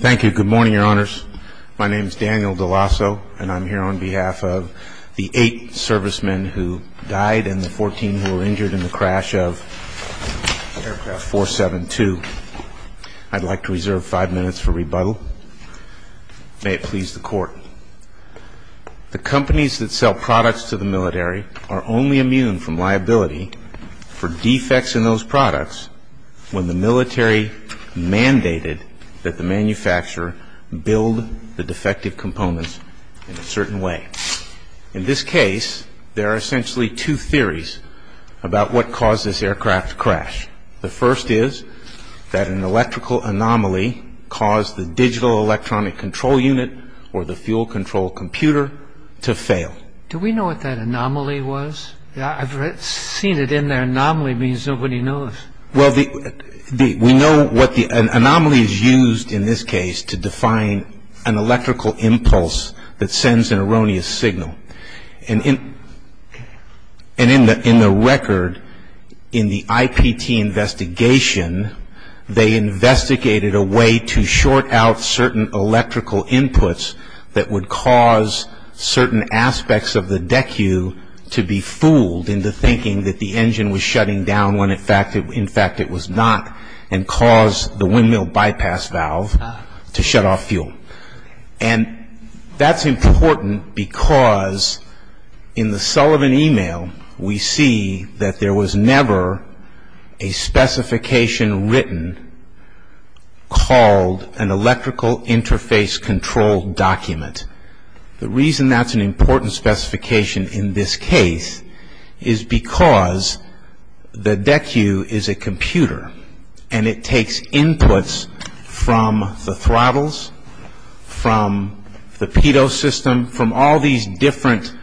Thank you. Good morning, Your Honors. My name is Daniel DeLasso, and I'm here on behalf of the eight servicemen who died and the 14 who were injured in the crash of Aircraft 472. I'd like to reserve five minutes for rebuttal. May it please the Court. The companies that sell products to the military are only immune from liability for defects in those products when the military mandated that the manufacturer build the defective components in a certain way. In this case, there are essentially two theories about what caused this aircraft crash. The first is that an electrical anomaly caused the digital electronic control unit or the fuel control computer to fail. Do we know what that anomaly was? I've seen it in there. Anomaly means nobody knows. Well, we know what the anomaly is used in this case to define an electrical impulse that sends an erroneous signal. And in the record in the IPT investigation, they investigated a way to short out certain electrical inputs that would cause certain aspects of the DECU to be fooled into thinking that the engine was shutting down when in fact it was not and caused the windmill bypass valve to shut off fuel. And that's important because in the Sullivan email, we see that there was never a specification written called an electrical interface control document. The reason that's an important specification in this case is because the DECU is a computer and it takes inputs from the throttles, from the pitot system, from all these different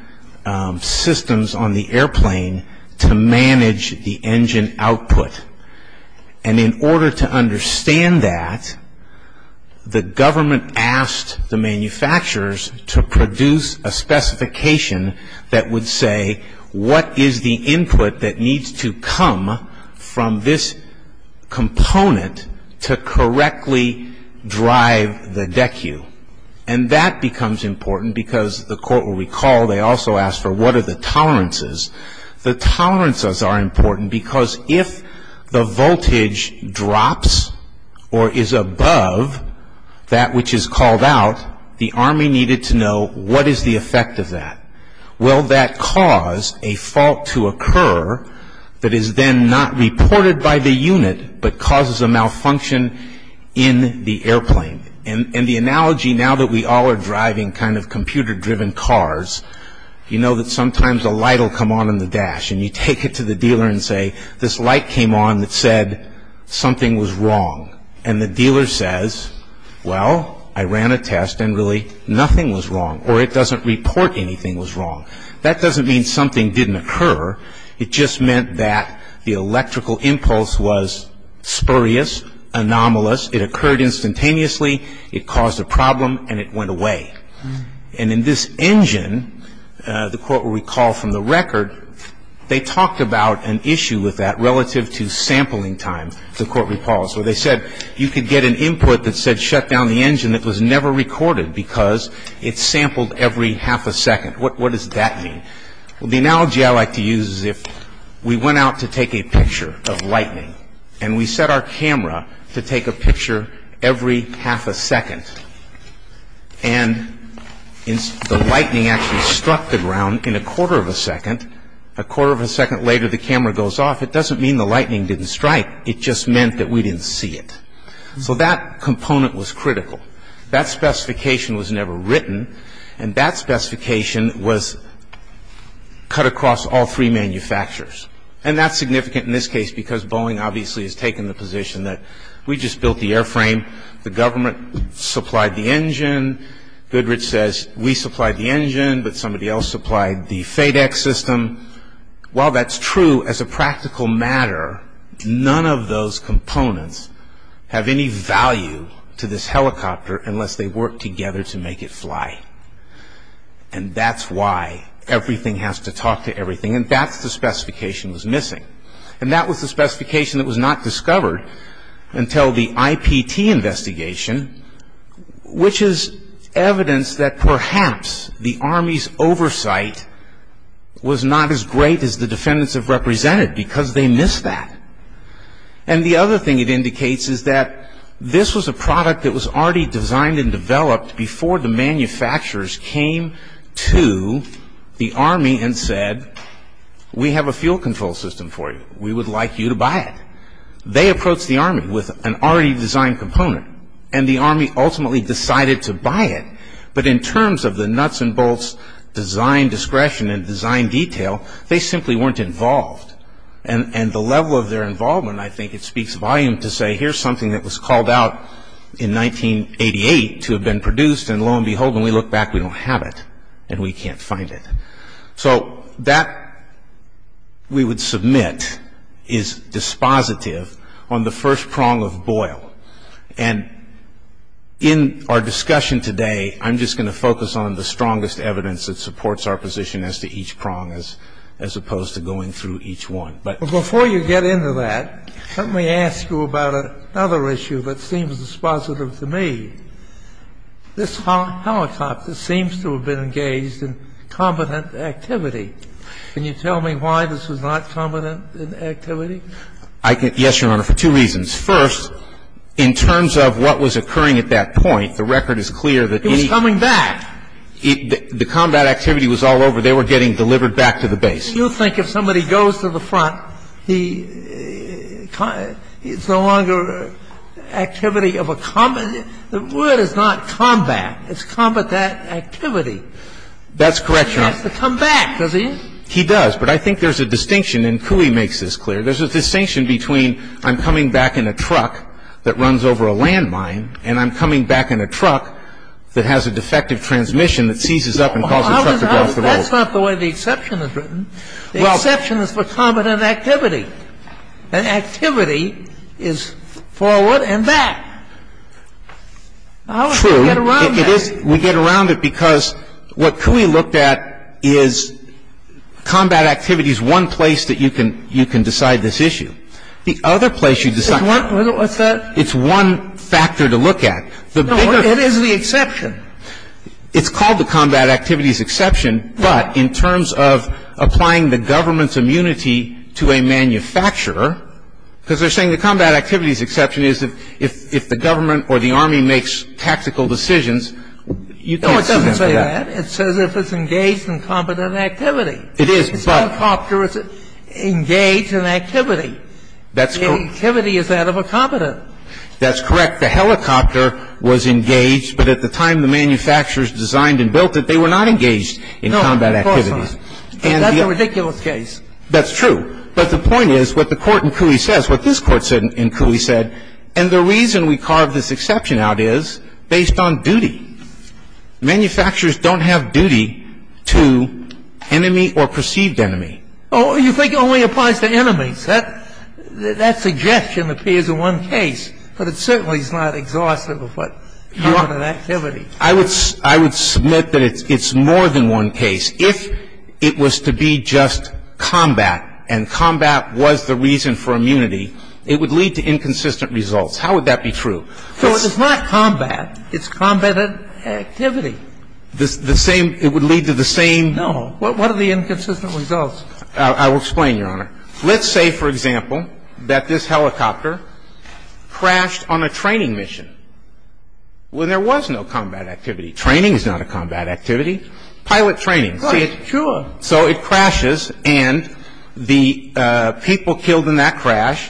systems on the airplane to manage the engine output. And in order to understand that, the government asked the manufacturers to produce a specification that would say what is the input that needs to come from this component to correctly drive the DECU. And that becomes important because the court will recall they also asked for what are the tolerances. The tolerances are important because if the voltage drops or is above that which is called out, the Army needed to know what is the effect of that. Will that cause a fault to occur that is then not reported by the unit but causes a malfunction in the airplane? And the analogy now that we all are driving kind of computer-driven cars, you know that sometimes a light will come on in the dash and you take it to the dealer and say, this light came on that said something was wrong. And the dealer says, well, I ran a test and really nothing was wrong or it doesn't report anything was wrong. That doesn't mean something didn't occur. It just meant that the electrical impulse was spurious, anomalous. It occurred instantaneously. It caused a problem and it went away. And in this engine, the court will recall from the record, they talked about an issue with that relative to sampling time. The court reports where they said you could get an input that said shut down the engine. It was never recorded because it sampled every half a second. What does that mean? Well, the analogy I like to use is if we went out to take a picture of lightning and we set our camera to take a picture every half a second and the lightning actually struck the ground in a quarter of a second, a quarter of a second later the camera goes off, it doesn't mean the lightning didn't strike. It just meant that we didn't see it. So that component was critical. That specification was never written and that specification was cut across all three manufacturers. And that's significant in this case because Boeing obviously has taken the position that we just built the airframe. The government supplied the engine. Goodrich says we supplied the engine but somebody else supplied the FedEx system. While that's true as a practical matter, none of those components have any value to this helicopter unless they work together to make it fly. And that's why everything has to talk to everything and that's the specification that's missing. And that was the specification that was not discovered until the IPT investigation, which is evidence that perhaps the Army's oversight was not as great as the defendants have represented because they missed that. And the other thing it indicates is that this was a product that was already designed and developed before the manufacturers came to the Army and said we have a fuel control system for you. We would like you to buy it. They approached the Army with an already designed component and the Army ultimately decided to buy it. But in terms of the nuts and bolts design discretion and design detail, they simply weren't involved. And the level of their involvement I think it speaks volume to say here's something that was called out in 1988 to have been produced and lo and behold when we look back we don't have it and we can't find it. So that we would submit is dispositive on the first prong of Boyle. And in our discussion today I'm just going to focus on the strongest evidence that supports our position as to each prong as opposed to going through each one. But before you get into that, let me ask you about another issue that seems dispositive to me. This helicopter seems to have been engaged in combatant activity. Can you tell me why this was not combatant activity? I can, yes, Your Honor, for two reasons. First, in terms of what was occurring at that point, the record is clear that any- It was coming back. The combat activity was all over. They were getting delivered back to the base. You think if somebody goes to the front, it's no longer activity of a combatant. The word is not combat. It's combatant activity. That's correct, Your Honor. It has to come back, doesn't it? He does. But I think there's a distinction and Cooey makes this clear. There's a distinction between I'm coming back in a truck that runs over a landmine and I'm coming back in a truck that has a defective transmission that seizes up and causes the truck to go off the road. That's not the way the exception is written. The exception is for combatant activity. And activity is forward and back. How do we get around that? True. We get around it because what Cooey looked at is combat activity is one place that you can decide this issue. The other place you decide- What's that? It's one factor to look at. No, it is the exception. It's called the combat activities exception, but in terms of applying the government's immunity to a manufacturer, because they're saying the combat activities exception is if the government or the Army makes tactical decisions, you can't sue them for that. No, it doesn't say that. It says if it's engaged in combatant activity. It is, but- A helicopter is engaged in activity. That's correct. The activity is that of a combatant. That's correct. The helicopter was engaged, but at the time the manufacturers designed and built it, they were not engaged in combat activities. No, of course not. That's a ridiculous case. That's true. But the point is what the Court in Cooey says, what this Court said in Cooey said, and the reason we carved this exception out is based on duty. Manufacturers don't have duty to enemy or perceived enemy. Oh, you think it only applies to enemies. I think it's more than one case. If it was to be just combat, and combat was the reason for immunity, it would lead to inconsistent results. How would that be true? It's not combat. It's combatant activity. The same --? It would lead to the same- No. Let's say for example, that a manufacturer is engaged in combatant activity. Let's say for example, that this helicopter crashed on a training mission when there was no combat activity. Training is not a combat activity. Pilot training. Of course. Sure. So it crashes, and the people killed in that crash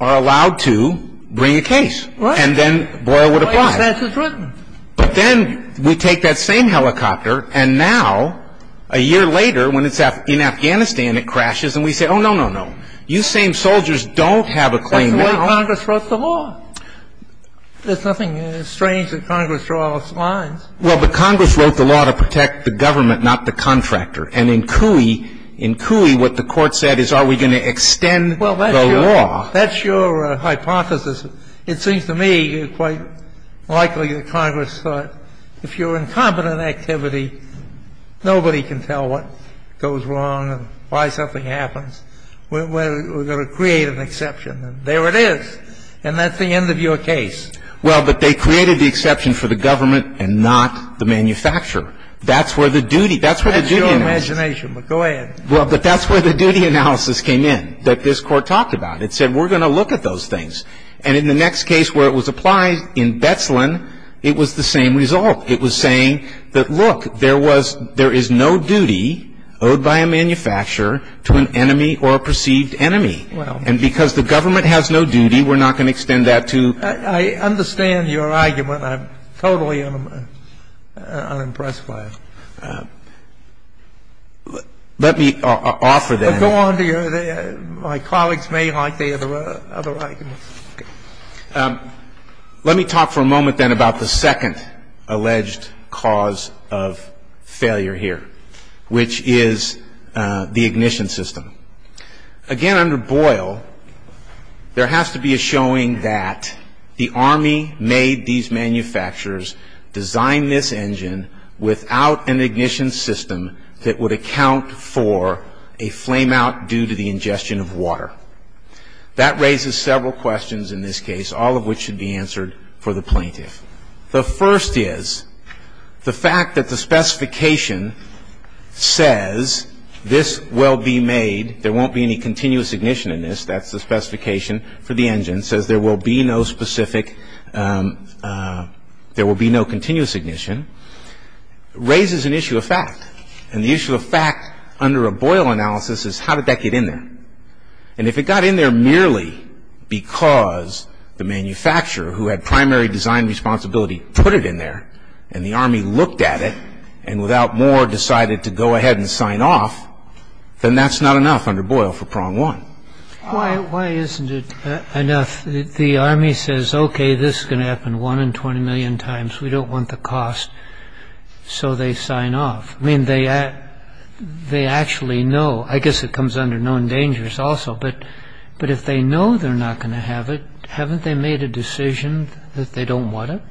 are allowed to bring a case. Right. And then Boyle would apply. Why is that so true? But then we take that same helicopter, and now, a year later, when it's in Afghanistan, it crashes, and we say, oh, no, no, no. You same soldiers don't have a claim now. That's the way Congress wrote the law. There's nothing strange that Congress draws lines. Well, but Congress wrote the law to protect the government, not the contractor. And in Cooey, in Cooey, what the Court said is, are we going to extend the law? Well, that's your hypothesis. It seems to me quite likely that Congress thought, if you're in combatant activity, nobody can tell what goes wrong and why something happens. We're going to create an exception. And there it is. And that's the end of your case. Well, but they created the exception for the government and not the manufacturer. That's where the duty analysis. That's your imagination, but go ahead. Well, but that's where the duty analysis came in that this Court talked about. It said, we're going to look at those things. And in the next case where it was applied in Betzlin, it was the same result. It was saying that, look, there was no duty owed by a manufacturer to an enemy or a perceived enemy. And because the government has no duty, we're not going to extend that to the manufacturer. I understand your argument. I'm totally unimpressed by it. Let me offer that. Go on. My colleagues may like the other arguments. Let me talk for a moment then about the second alleged cause of failure here, which is the ignition system. Again, under Boyle, there has to be a showing that the Army made these manufacturers design this engine without an ignition system that would account for a flame-out due to the ingestion of water. That raises several questions in this case, all of which should be answered for the plaintiff. The first is the fact that the specification says this will be made, there won't be any continuous ignition in this, that's the specification for the engine, and the second is the fact that the specification says there will be no specific, there will be no continuous ignition, raises an issue of fact. And the issue of fact under a Boyle analysis is how did that get in there? And if it got in there merely because the manufacturer who had primary design responsibility put it in there and the Army looked at it and without more decided to go ahead and sign off, then that's not enough under Boyle for prong one. Why isn't it enough? The Army says, okay, this is going to happen 1 in 20 million times, we don't want the cost, so they sign off. I mean, they actually know. I guess it comes under known dangers also, but if they know they're not going to have it, haven't they made a decision that they don't want it?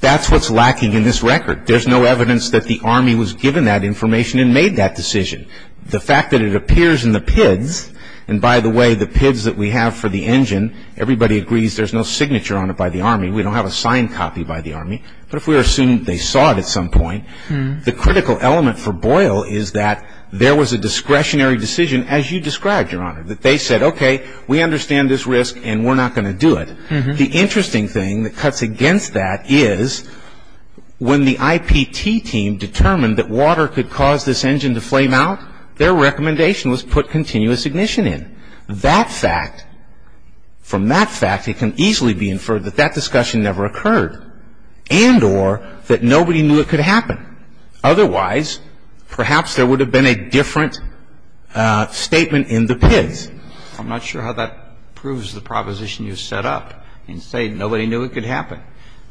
That's what's lacking in this record. There's no evidence that the Army was given that information and made that decision. The fact that it appears in the PIDs, and by the way, the PIDs that we have for the engine, everybody agrees there's no signature on it by the Army, we don't have a signed copy by the Army, but if we assume they saw it at some point, the critical element for Boyle is that there was a discretionary decision, as you described, Your Honor, that they said, okay, we understand this risk and we're not going to do it. The interesting thing that cuts against that is when the IPT team determined that water could cause this engine to flame out, their recommendation was put continuous ignition in. That fact, from that fact, it can easily be inferred that that discussion never occurred and or that nobody knew it could happen. Otherwise, perhaps there would have been a different statement in the PIDs. I'm not sure how that proves the proposition you set up and say nobody knew it could happen.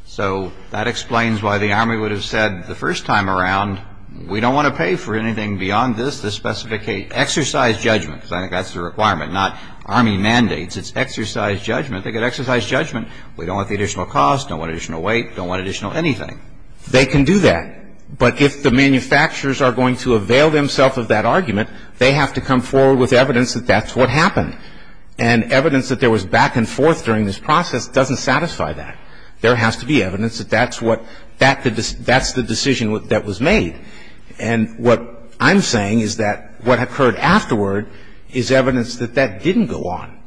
So that explains why the Army would have said the first time around, we don't want to pay for anything beyond this to specificate exercise judgment, because I think that's the requirement, not Army mandates. It's exercise judgment. They could exercise judgment. We don't want the additional cost, don't want additional weight, don't want additional anything. They can do that. But if the manufacturers are going to avail themselves of that argument, they have to come forward with evidence that that's what happened. And evidence that there was back and forth during this process doesn't satisfy that. There has to be evidence that that's what that's the decision that was made. And what I'm saying is that what occurred afterward is evidence that that didn't go on.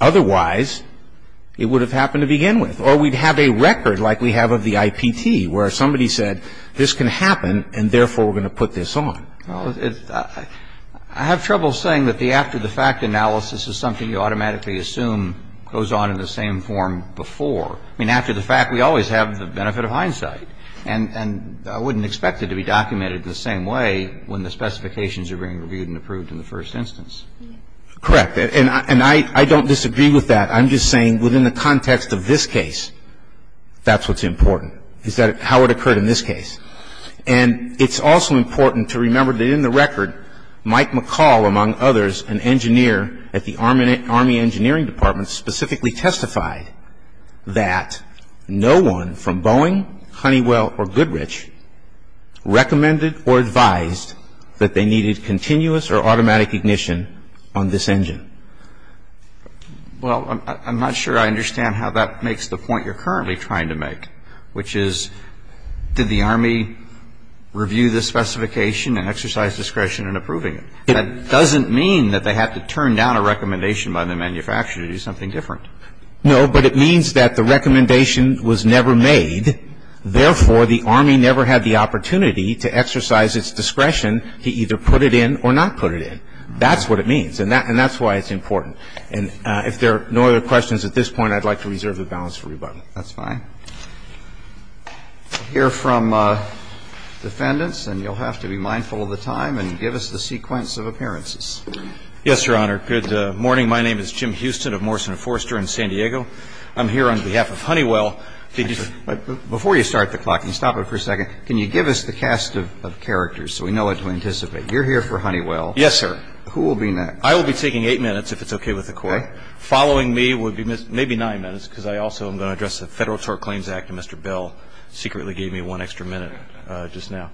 Otherwise, it would have happened to begin with. Or we'd have a record like we have of the IPT where somebody said this can happen, and therefore we're going to put this on. Roberts. Well, I have trouble saying that the after-the-fact analysis is something you automatically assume goes on in the same form before. I mean, after the fact, we always have the benefit of hindsight. And I wouldn't expect it to be documented the same way when the specifications are being reviewed and approved in the first instance. Correct. And I don't disagree with that. I'm just saying within the context of this case, that's what's important, is that how it occurred in this case. And it's also important to remember that in the record, Mike McCall, among others, an engineer at the Army Engineering Department, specifically testified that no one from Boeing, Honeywell, or Goodrich, recommended or advised that they needed continuous or automatic ignition on this engine. Well, I'm not sure I understand how that makes the point you're currently trying to make, which is, did the Army review the specification and exercise discretion in approving it? That doesn't mean that they had to turn down a recommendation by the manufacturer to do something different. No, but it means that the recommendation was never made, therefore the Army never had the opportunity to exercise its discretion to either put it in or not put it in. That's what it means, and that's why it's important. And if there are no other questions at this point, I'd like to reserve the balance for rebuttal. That's fine. We'll hear from defendants, and you'll have to be mindful of the time and give us the sequence of appearances. Yes, Your Honor. Good morning. My name is Jim Houston of Morrison and Forster in San Diego. I'm here on behalf of Honeywell. Before you start the clock, can you stop it for a second? Can you give us the cast of characters so we know what to anticipate? You're here for Honeywell. Yes, sir. Who will be next? I will be taking 8 minutes, if it's okay with the Court. Okay. Following me will be maybe 9 minutes, because I also am going to address the Federal Tort Claims Act, and Mr. Bell secretly gave me one extra minute just now.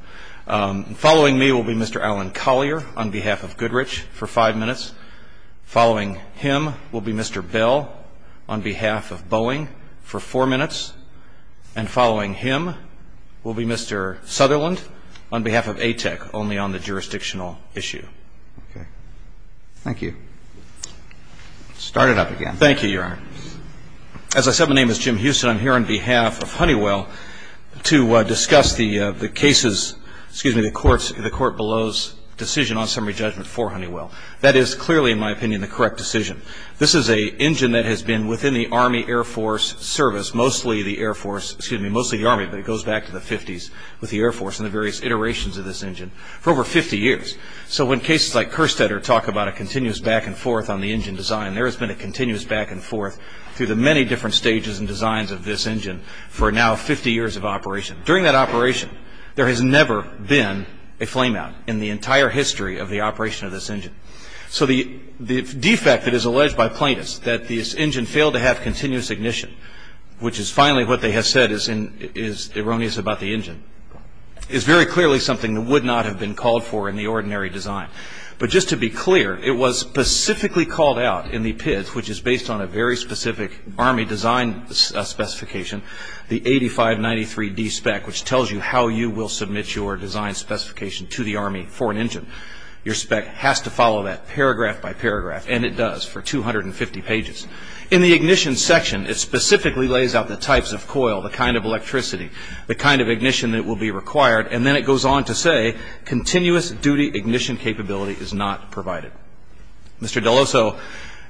Following me will be Mr. Alan Collier on behalf of Goodrich for 5 minutes. Following him will be Mr. Bell on behalf of Boeing for 4 minutes. And following him will be Mr. Sutherland on behalf of ATEC, only on the jurisdictional issue. Okay. Thank you. Start it up again. Thank you, Your Honor. As I said, my name is Jim Houston. I'm here on behalf of Honeywell to discuss the cases, excuse me, the court below's decision on summary judgment for Honeywell. That is clearly, in my opinion, the correct decision. This is an engine that has been within the Army Air Force service, mostly the Air Force, excuse me, mostly the Army, but it goes back to the 50s with the Air Force and the various iterations of this engine for over 50 years. So when cases like Kerstetter talk about a continuous back and forth on the engine design, there has been a continuous back and forth through the many different stages and designs of this engine for now 50 years of operation. During that operation, there has never been a flameout in the entire history of the operation of this engine. So the defect that is alleged by plaintiffs, that this engine failed to have continuous ignition, which is finally what they have said is erroneous about the engine, is very clearly something that would not have been called for in the ordinary design. But just to be clear, it was specifically called out in the PIDs, which is based on a very specific Army design specification, the 8593D spec, which tells you how you will submit your design specification to the Army for an engine. Your spec has to follow that paragraph by paragraph, and it does for 250 pages. In the ignition section, it specifically lays out the types of coil, the kind of electricity, the kind of ignition that will be required, and then it goes on to say, continuous duty ignition capability is not provided. Mr. De Loso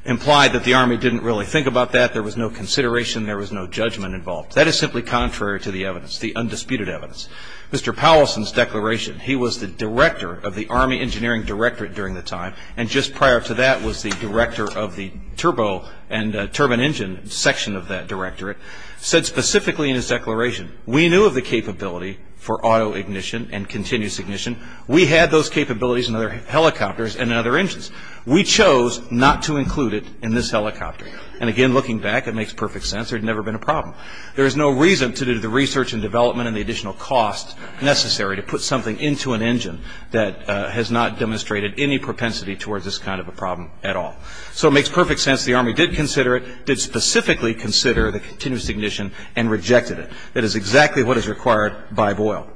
implied that the Army didn't really think about that. There was no consideration. There was no judgment involved. That is simply contrary to the evidence, the undisputed evidence. Mr. Powelson's declaration, he was the director of the Army Engineering Directorate during the time, and just prior to that was the director of the turbo and turbine engine section of that directorate, said specifically in his declaration, we knew of the capability for auto ignition and continuous ignition. We had those capabilities in other helicopters and in other engines. We chose not to include it in this helicopter. And, again, looking back, it makes perfect sense. There had never been a problem. There is no reason to do the research and development and the additional cost necessary to put something into an engine that has not demonstrated any propensity towards this kind of a problem at all. So it makes perfect sense the Army did consider it, did specifically consider the continuous ignition and rejected it. That is exactly what is required by Boyle.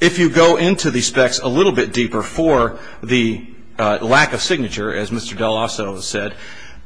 If you go into the specs a little bit deeper for the lack of signature, as Mr. De Loso has said,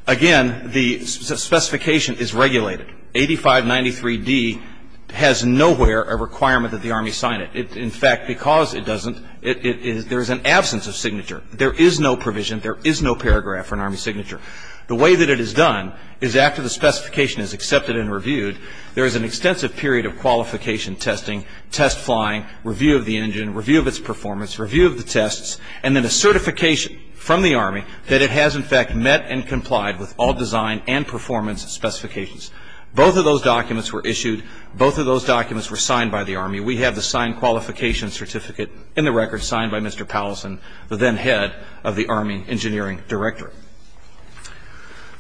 again, the specification is regulated. 8593D has nowhere a requirement that the Army sign it. In fact, because it doesn't, there is an absence of signature. There is no provision. There is no paragraph for an Army signature. The way that it is done is after the specification is accepted and reviewed, there is an extensive period of qualification testing, test flying, review of the engine, review of its performance, review of the tests, and then a certification from the Army that it has, in fact, met and complied with all design and performance specifications. Both of those documents were issued. Both of those documents were signed by the Army. We have the signed qualification certificate in the record signed by Mr. Powelson, the then head of the Army Engineering Directorate.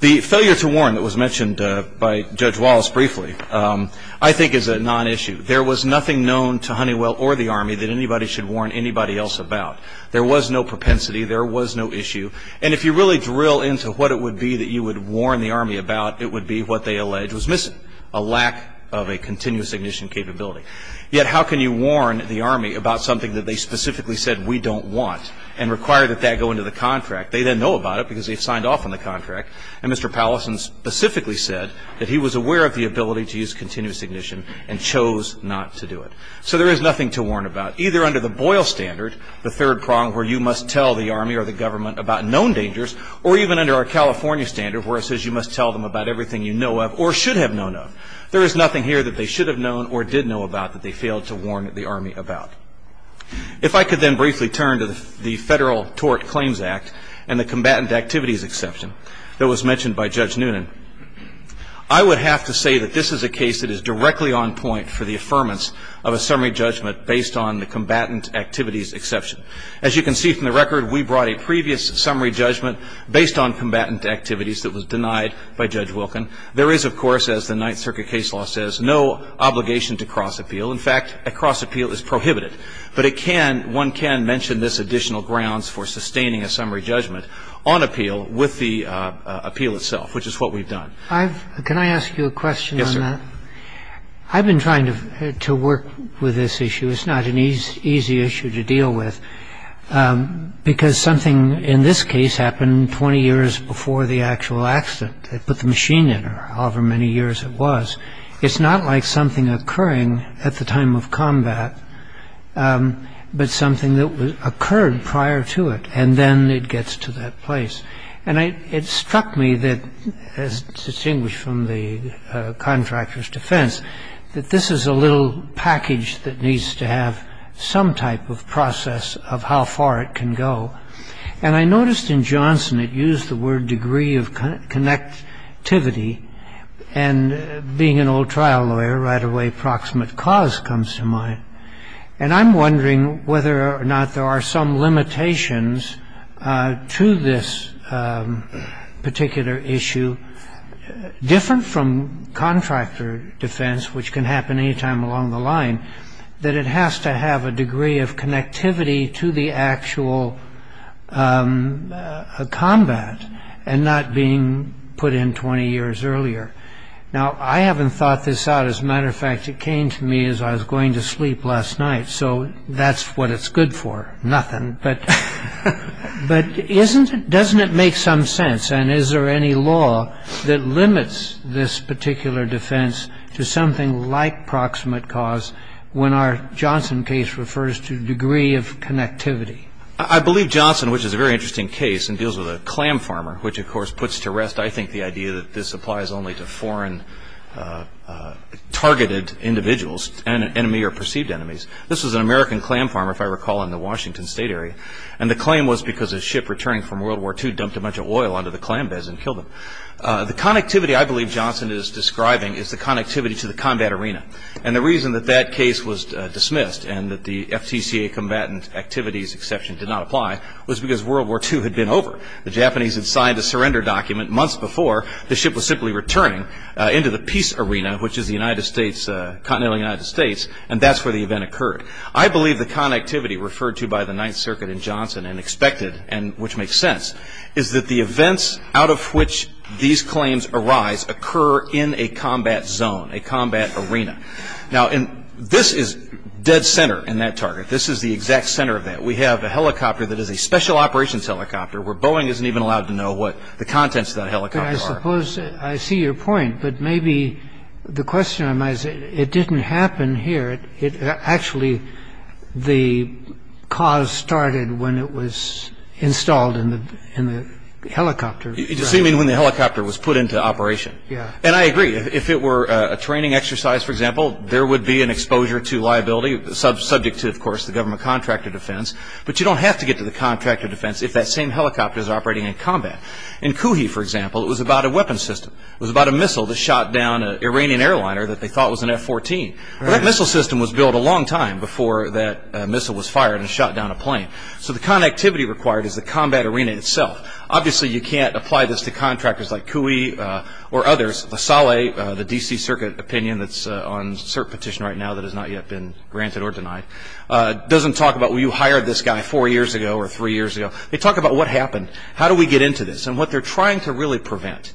The failure to warn that was mentioned by Judge Wallace briefly I think is a non-issue. There was nothing known to Honeywell or the Army that anybody should warn anybody else about. There was no propensity. There was no issue. And if you really drill into what it would be that you would warn the Army about, it would be what they allege was missing, a lack of a continuous ignition capability. Yet how can you warn the Army about something that they specifically said we don't want and require that that go into the contract? They then know about it because they've signed off on the contract. And Mr. Powelson specifically said that he was aware of the ability to use continuous ignition and chose not to do it. So there is nothing to warn about, either under the Boyle standard, the third prong where you must tell the Army or the government about known dangers, or even under our California standard where it says you must tell them about everything you know of or should have known of. There is nothing here that they should have known or did know about that they failed to warn the Army about. If I could then briefly turn to the Federal Tort Claims Act and the combatant activities exception that was mentioned by Judge Noonan, I would have to say that this is a case that is directly on point for the affirmance of a summary judgment based on the combatant activities exception. As you can see from the record, we brought a previous summary judgment based on combatant activities that was denied by Judge Wilkin. There is, of course, as the Ninth Circuit case law says, no obligation to cross-appeal. In fact, a cross-appeal is prohibited. But it can, one can mention this additional grounds for sustaining a summary judgment on appeal with the appeal itself, which is what we've done. Can I ask you a question on that? Yes, sir. I've been trying to work with this issue. It's not an easy issue to deal with because something in this case happened 20 years before the actual accident. They put the machine in, or however many years it was. It's not like something occurring at the time of combat, but something that occurred prior to it, and then it gets to that place. And it struck me that, as distinguished from the contractor's defense, that this is a little package that needs to have some type of process of how far it can go. And I noticed in Johnson it used the word degree of connectivity. And being an old trial lawyer, right away proximate cause comes to mind. And I'm wondering whether or not there are some limitations to this particular issue, different from contractor defense, which can happen any time along the line, that it has to have a degree of connectivity to the actual combat and not being put in 20 years earlier. Now, I haven't thought this out. As a matter of fact, it came to me as I was going to sleep last night, so that's what it's good for, nothing. But doesn't it make some sense, and is there any law that limits this particular defense to something like proximate cause when our Johnson case refers to degree of connectivity? I believe Johnson, which is a very interesting case and deals with a clam farmer, which, of course, puts to rest, I think, the idea that this applies only to foreign targeted individuals, enemy or perceived enemies. This was an American clam farmer, if I recall, in the Washington State area. And the claim was because a ship returning from World War II dumped a bunch of oil onto the clam beds and killed them. The connectivity I believe Johnson is describing is the connectivity to the combat arena. And the reason that that case was dismissed and that the FTCA combatant activities exception did not apply was because World War II had been over. The Japanese had signed a surrender document months before the ship was simply returning into the peace arena, which is the continental United States, and that's where the event occurred. I believe the connectivity referred to by the Ninth Circuit in Johnson and expected, and which makes sense, is that the events out of which these claims arise occur in a combat zone, a combat arena. Now, this is dead center in that target. This is the exact center of that. We have a helicopter that is a special operations helicopter, where Boeing isn't even allowed to know what the contents of that helicopter are. But I suppose I see your point, but maybe the question I might say, it didn't happen here. Actually, the cause started when it was installed in the helicopter. You mean when the helicopter was put into operation? Yeah. And I agree. If it were a training exercise, for example, there would be an exposure to liability, subject to, of course, the government contract of defense. But you don't have to get to the contract of defense if that same helicopter is operating in combat. In Kuhi, for example, it was about a weapons system. It was about a missile that shot down an Iranian airliner that they thought was an F-14. Well, that missile system was built a long time before that missile was fired and shot down a plane. So the connectivity required is the combat arena itself. Obviously, you can't apply this to contractors like Kuhi or others. Saleh, the D.C. Circuit opinion that's on cert petition right now that has not yet been granted or denied, doesn't talk about, well, you hired this guy four years ago or three years ago. They talk about what happened. How do we get into this? And what they're trying to really prevent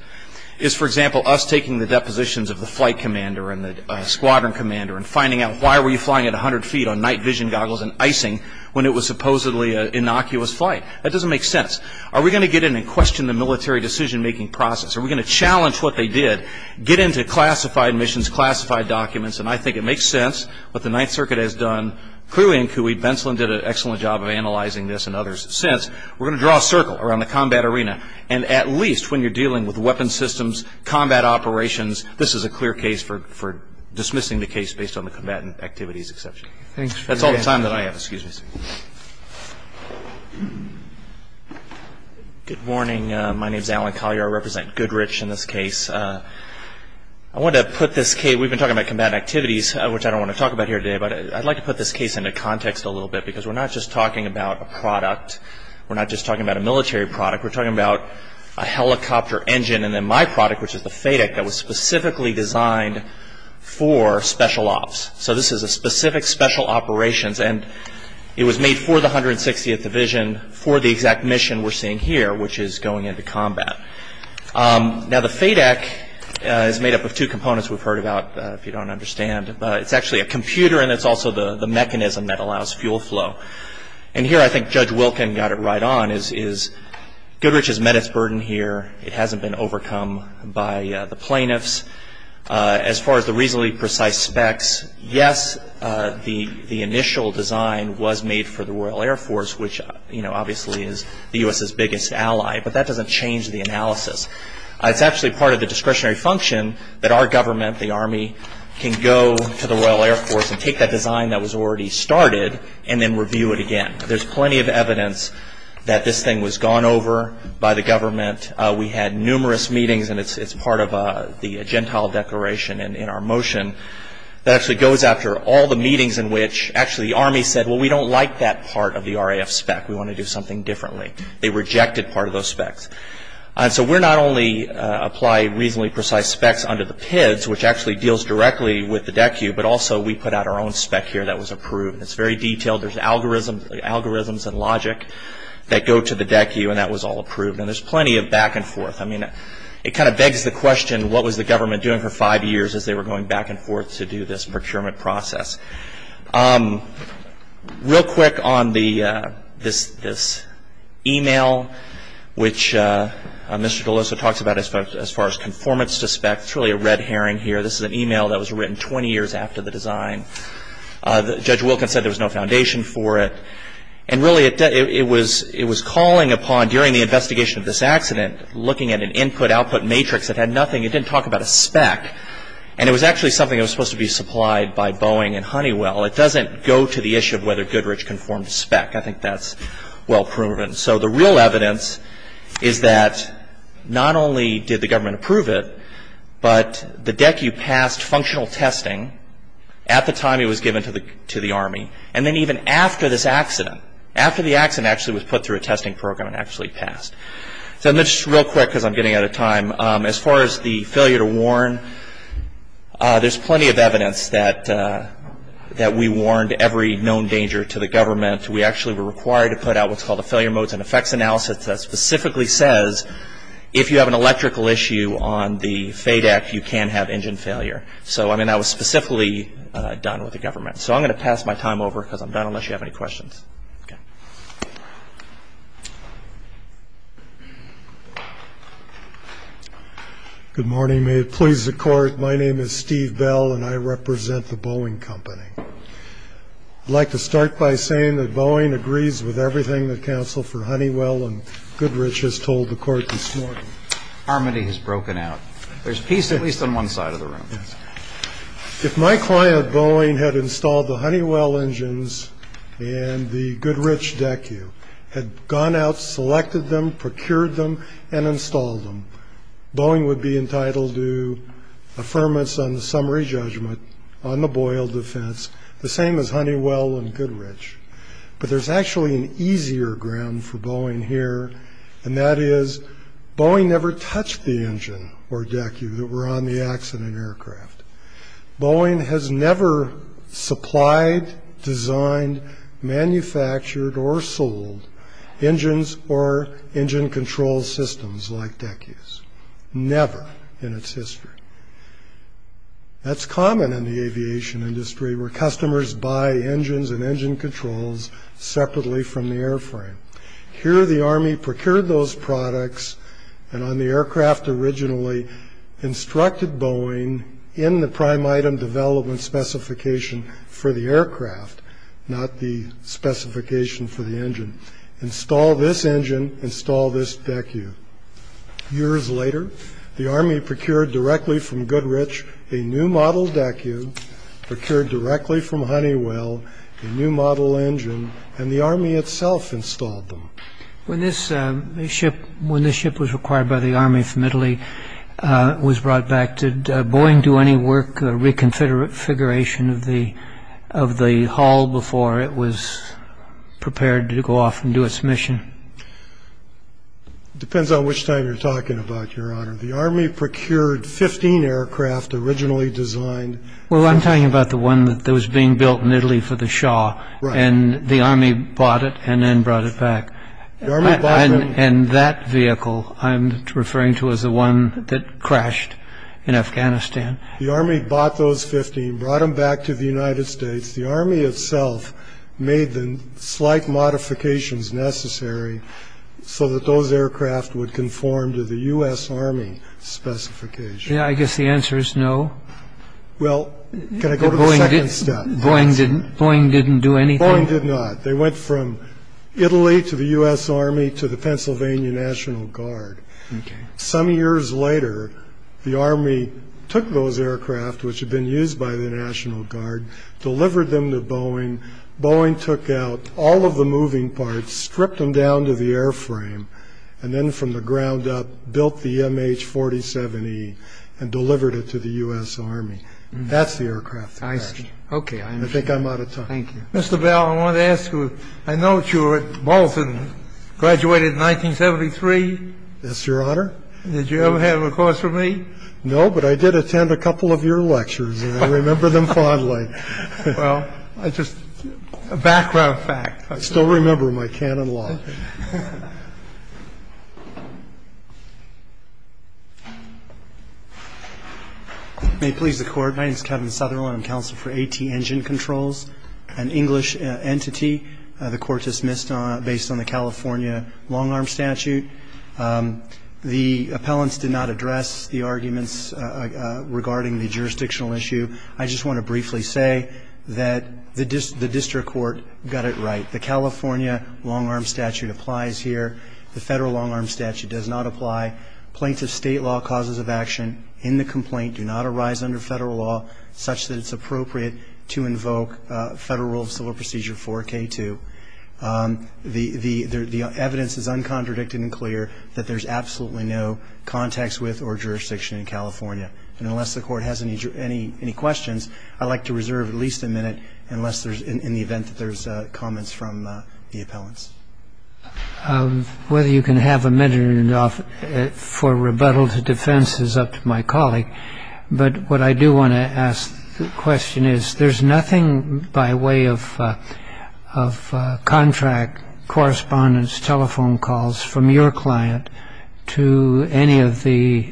is, for example, us taking the depositions of the flight commander and the squadron commander and finding out why were you flying at 100 feet on night vision goggles and icing when it was supposedly an innocuous flight. That doesn't make sense. Are we going to get in and question the military decision-making process? Are we going to challenge what they did, get into classified missions, classified documents? And I think it makes sense what the Ninth Circuit has done. Clearly in Kuhi, Benslin did an excellent job of analyzing this and others. Since, we're going to draw a circle around the combat arena. And at least when you're dealing with weapon systems, combat operations, this is a clear case for dismissing the case based on the combatant activities exception. That's all the time that I have. Excuse me. Good morning. My name is Alan Collier. I represent Goodrich in this case. I want to put this case, we've been talking about combatant activities, which I don't want to talk about here today, but I'd like to put this case into context a little bit because we're not just talking about a product. We're not just talking about a military product. We're talking about a helicopter engine, and then my product, which is the FADEC, that was specifically designed for special ops. So this is a specific special operations, and it was made for the 160th Division for the exact mission we're seeing here, which is going into combat. Now, the FADEC is made up of two components we've heard about, if you don't understand. It's actually a computer, and it's also the mechanism that allows fuel flow. And here I think Judge Wilkin got it right on is Goodrich has met its burden here. It hasn't been overcome by the plaintiffs. As far as the reasonably precise specs, yes, the initial design was made for the Royal Air Force, which, you know, obviously is the U.S.'s biggest ally, but that doesn't change the analysis. It's actually part of the discretionary function that our government, the Army, can go to the Royal Air Force and take that design that was already started and then review it again. There's plenty of evidence that this thing was gone over by the government. We had numerous meetings, and it's part of the Gentile Declaration in our motion. That actually goes after all the meetings in which actually the Army said, well, we don't like that part of the RAF spec. We want to do something differently. They rejected part of those specs. So we not only apply reasonably precise specs under the PIDs, which actually deals directly with the DECU, but also we put out our own spec here that was approved. It's very detailed. There's algorithms and logic that go to the DECU, and that was all approved. And there's plenty of back and forth. I mean, it kind of begs the question, what was the government doing for five years as they were going back and forth to do this procurement process? Real quick on this e-mail, which Mr. DeLussa talks about as far as conformance to spec. It's really a red herring here. This is an e-mail that was written 20 years after the design. Judge Wilkins said there was no foundation for it. And really, it was calling upon, during the investigation of this accident, looking at an input-output matrix that had nothing. It didn't talk about a spec. And it was actually something that was supposed to be supplied by Boeing and Honeywell. It doesn't go to the issue of whether Goodrich conformed to spec. I think that's well proven. So the real evidence is that not only did the government approve it, but the DECU passed functional testing at the time it was given to the Army, and then even after this accident, after the accident actually was put through a testing program, it actually passed. So just real quick, because I'm getting out of time. As far as the failure to warn, there's plenty of evidence that we warned every known danger to the government. We actually were required to put out what's called a failure modes and effects analysis that specifically says if you have an electrical issue on the FADEC, you can have engine failure. So, I mean, that was specifically done with the government. So I'm going to pass my time over because I'm done unless you have any questions. Okay. Good morning. May it please the Court, my name is Steve Bell, and I represent the Boeing Company. I'd like to start by saying that Boeing agrees with everything the counsel for Honeywell and Goodrich has told the Court this morning. Harmony has broken out. There's peace at least on one side of the room. If my client Boeing had installed the Honeywell engines and the Goodrich DECU, had gone out, selected them, procured them, and installed them, Boeing would be entitled to affirmance on the summary judgment on the Boyle defense, the same as Honeywell and Goodrich. But there's actually an easier ground for Boeing here, and that is Boeing never touched the engine or DECU that were on the accident aircraft. Boeing has never supplied, designed, manufactured, or sold engines or engine control systems like DECUs, never in its history. That's common in the aviation industry where customers buy engines and engine controls separately from the airframe. Here the Army procured those products and on the aircraft originally instructed Boeing in the prime item development specification for the aircraft, not the specification for the engine. Install this engine, install this DECU. Years later, the Army procured directly from Goodrich a new model DECU, procured directly from Honeywell a new model engine, and the Army itself installed them. When this ship was acquired by the Army from Italy, was brought back, did Boeing do any work, a reconfiguration of the hull before it was prepared to go off and do its mission? Depends on which time you're talking about, Your Honor. The Army procured 15 aircraft originally designed. Well, I'm talking about the one that was being built in Italy for the Shaw. Right. And the Army bought it and then brought it back. And that vehicle I'm referring to as the one that crashed in Afghanistan. The Army bought those 15, brought them back to the United States. The Army itself made the slight modifications necessary so that those aircraft would conform to the U.S. Army specification. Yeah, I guess the answer is no. Well, can I go to the second step? Boeing didn't do anything? Boeing did not. They went from Italy to the U.S. Army to the Pennsylvania National Guard. Some years later, the Army took those aircraft, which had been used by the National Guard, delivered them to Boeing. Boeing took out all of the moving parts, stripped them down to the airframe, and then from the ground up built the MH-47E and delivered it to the U.S. Army. That's the aircraft that crashed. I see. Okay, I understand. I think I'm out of time. Thank you. Mr. Bell, I want to ask you, I know that you were at Bolton, graduated in 1973. Yes, Your Honor. Did you ever have a course with me? No, but I did attend a couple of your lectures, and I remember them fondly. Well, just a background fact. I still remember my canon law. May it please the Court. My name is Kevin Southerland. I'm counsel for AT Engine Controls, an English entity. The Court dismissed based on the California long-arm statute. The appellants did not address the arguments regarding the jurisdictional issue. I just want to briefly say that the district court got it right. The California long-arm statute applies here. The federal long-arm statute does not apply. Plaintiff state law causes of action in the complaint do not arise under federal law such that it's appropriate to invoke Federal Rule of Civil Procedure 4K2. The evidence is uncontradicted and clear that there's absolutely no context with or jurisdiction in California. And unless the Court has any questions, I'd like to reserve at least a minute in the event that there's comments from the appellants. Whether you can have a minute or not for rebuttal to defense is up to my colleague. But what I do want to ask the question is, there's nothing by way of contract, correspondence, telephone calls from your client to any of the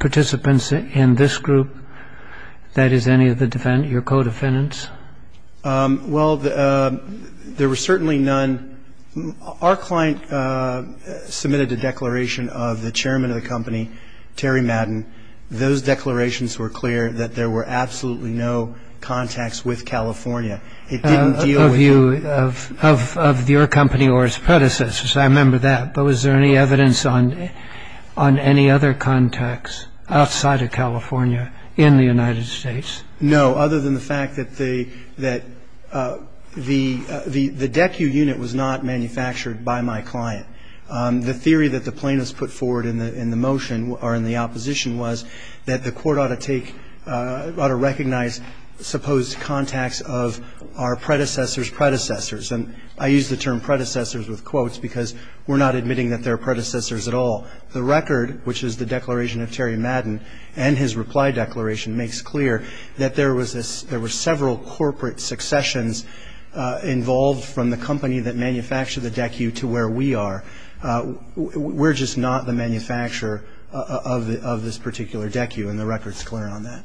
participants in this group that is any of the defendants, your co-defendants? Well, there were certainly none. Our client submitted a declaration of the chairman of the company, Terry Madden. Those declarations were clear that there were absolutely no contacts with California. It didn't deal with them. Of your company or its predecessors. I remember that. But was there any evidence on any other contacts outside of California in the United States? No, other than the fact that the DECU unit was not manufactured by my client. The theory that the plaintiffs put forward in the motion or in the opposition was that the Court ought to take, ought to recognize supposed contacts of our predecessors' predecessors. And I use the term predecessors with quotes because we're not admitting that they're predecessors at all. The record, which is the declaration of Terry Madden and his reply declaration, makes clear that there were several corporate successions involved from the company that manufactured the DECU to where we are. We're just not the manufacturer of this particular DECU, and the record's clear on that.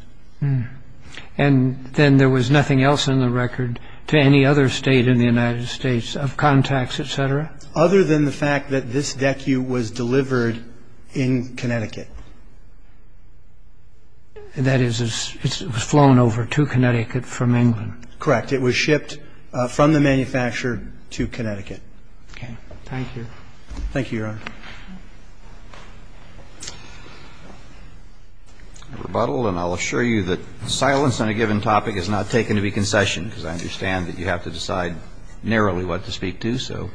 And then there was nothing else in the record to any other state in the United States of contacts, et cetera? Other than the fact that this DECU was delivered in Connecticut. That is, it was flown over to Connecticut from England. Correct. It was shipped from the manufacturer to Connecticut. Okay. Thank you. Thank you, Your Honor. Rebuttal. And I'll assure you that silence on a given topic is not taken to be concession, because I understand that you have to decide narrowly what to speak to, so.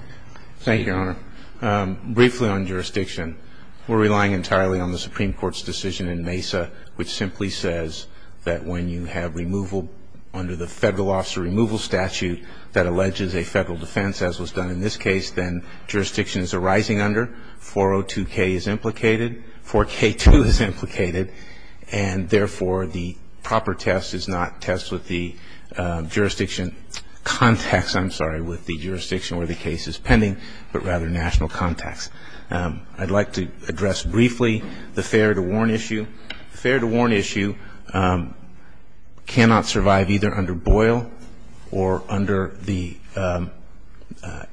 Thank you, Your Honor. Briefly on jurisdiction. We're relying entirely on the Supreme Court's decision in Mesa which simply says that when you have removal under the Federal Officer Removal Statute that alleges a Federal defense as was done in this case, then jurisdiction is arising under. 402K is implicated. 4K2 is implicated. And therefore, the proper test is not test with the jurisdiction contacts, I'm sorry, with the jurisdiction where the case is pending, but rather national contacts. I'd like to address briefly the fair to warn issue. The fair to warn issue cannot survive either under Boyle or under the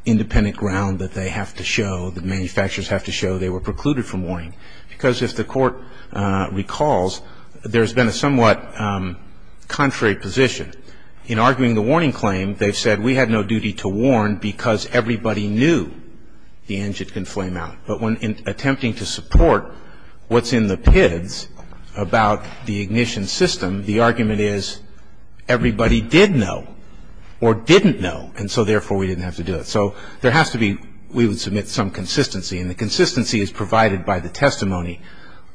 independent ground that they have to show, that manufacturers have to show they were precluded from warning. Because if the Court recalls, there's been a somewhat contrary position. In arguing the warning claim, they've said we had no duty to warn because everybody knew the engine could flame out. But when attempting to support what's in the PIDs about the ignition system, the argument is everybody did know or didn't know, and so therefore we didn't have to do it. So there has to be we would submit some consistency. And the consistency is provided by the testimony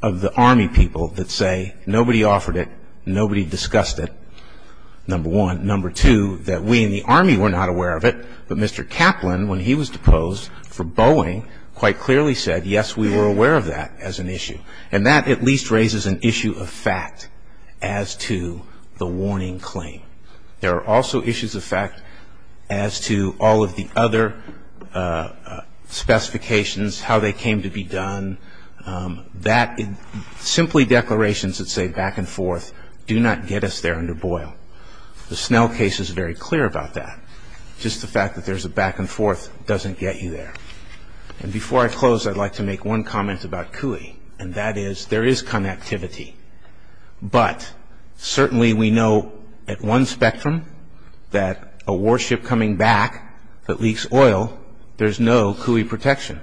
of the Army people that say nobody offered it, nobody discussed it, number one. Number two, that we in the Army were not aware of it, but Mr. Kaplan, when he was posed for Boeing, quite clearly said, yes, we were aware of that as an issue. And that at least raises an issue of fact as to the warning claim. There are also issues of fact as to all of the other specifications, how they came to be done, that simply declarations that say back and forth do not get us there under Boyle. The Snell case is very clear about that. Just the fact that there's a back and forth doesn't get you there. And before I close, I'd like to make one comment about CUI, and that is there is connectivity. But certainly we know at one spectrum that a warship coming back that leaks oil, there's no CUI protection.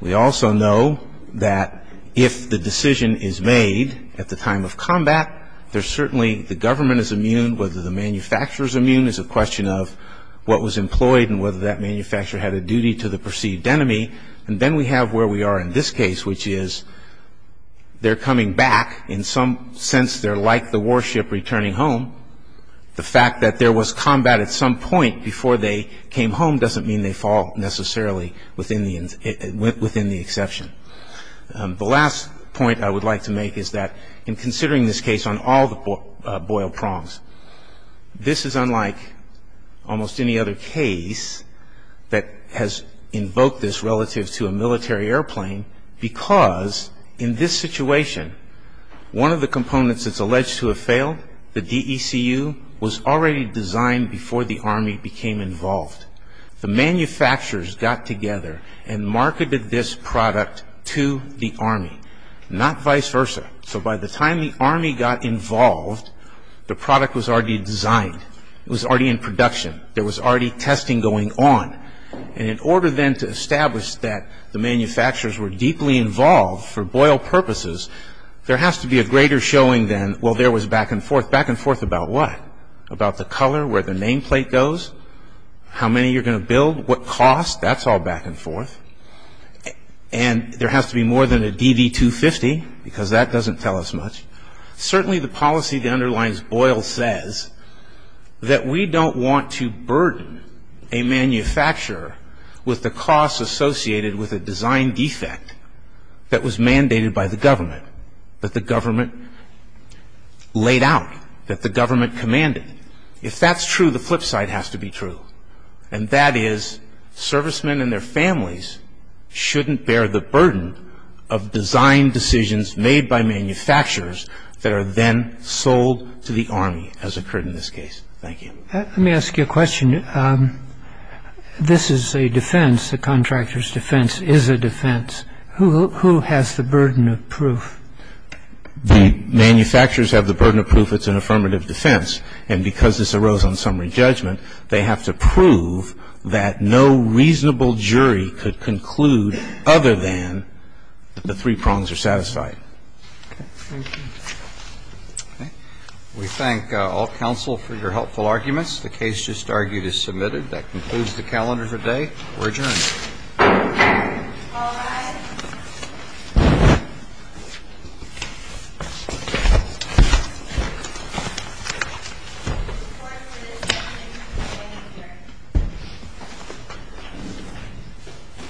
We also know that if the decision is made at the time of combat, there's certainly the government is immune, whether the manufacturer is immune is a question of what was employed and whether that manufacturer had a duty to the perceived enemy. And then we have where we are in this case, which is they're coming back. In some sense, they're like the warship returning home. The fact that there was combat at some point before they came home doesn't mean they fall necessarily within the exception. The last point I would like to make is that in considering this case on all the Boyle prongs, this is unlike almost any other case that has invoked this relative to a military airplane because in this situation, one of the components that's alleged to have failed, the DECU, was already designed before the Army became involved. The manufacturers got together and marketed this product to the Army, not vice versa. So by the time the Army got involved, the product was already designed. It was already in production. There was already testing going on. And in order then to establish that the manufacturers were deeply involved for Boyle purposes, there has to be a greater showing than, well, there was back and forth. Back and forth about what? About the color, where the nameplate goes? How many you're going to build? What cost? That's all back and forth. And there has to be more than a DV-250 because that doesn't tell us much. Certainly the policy that underlines Boyle says that we don't want to burden a manufacturer with the costs associated with a design defect that was mandated by the government, that the government laid out, that the government commanded. If that's true, the flip side has to be true, and that is servicemen and their families shouldn't bear the burden of design decisions made by manufacturers that are then sold to the Army, as occurred in this case. Thank you. Let me ask you a question. This is a defense. A contractor's defense is a defense. Who has the burden of proof? The manufacturers have the burden of proof. If it's an affirmative defense, and because this arose on summary judgment, they have to prove that no reasonable jury could conclude other than the three prongs are satisfied. Okay. Thank you. Okay. We thank all counsel for your helpful arguments. The case just argued is submitted. That concludes the calendar for today. We're adjourned. All rise.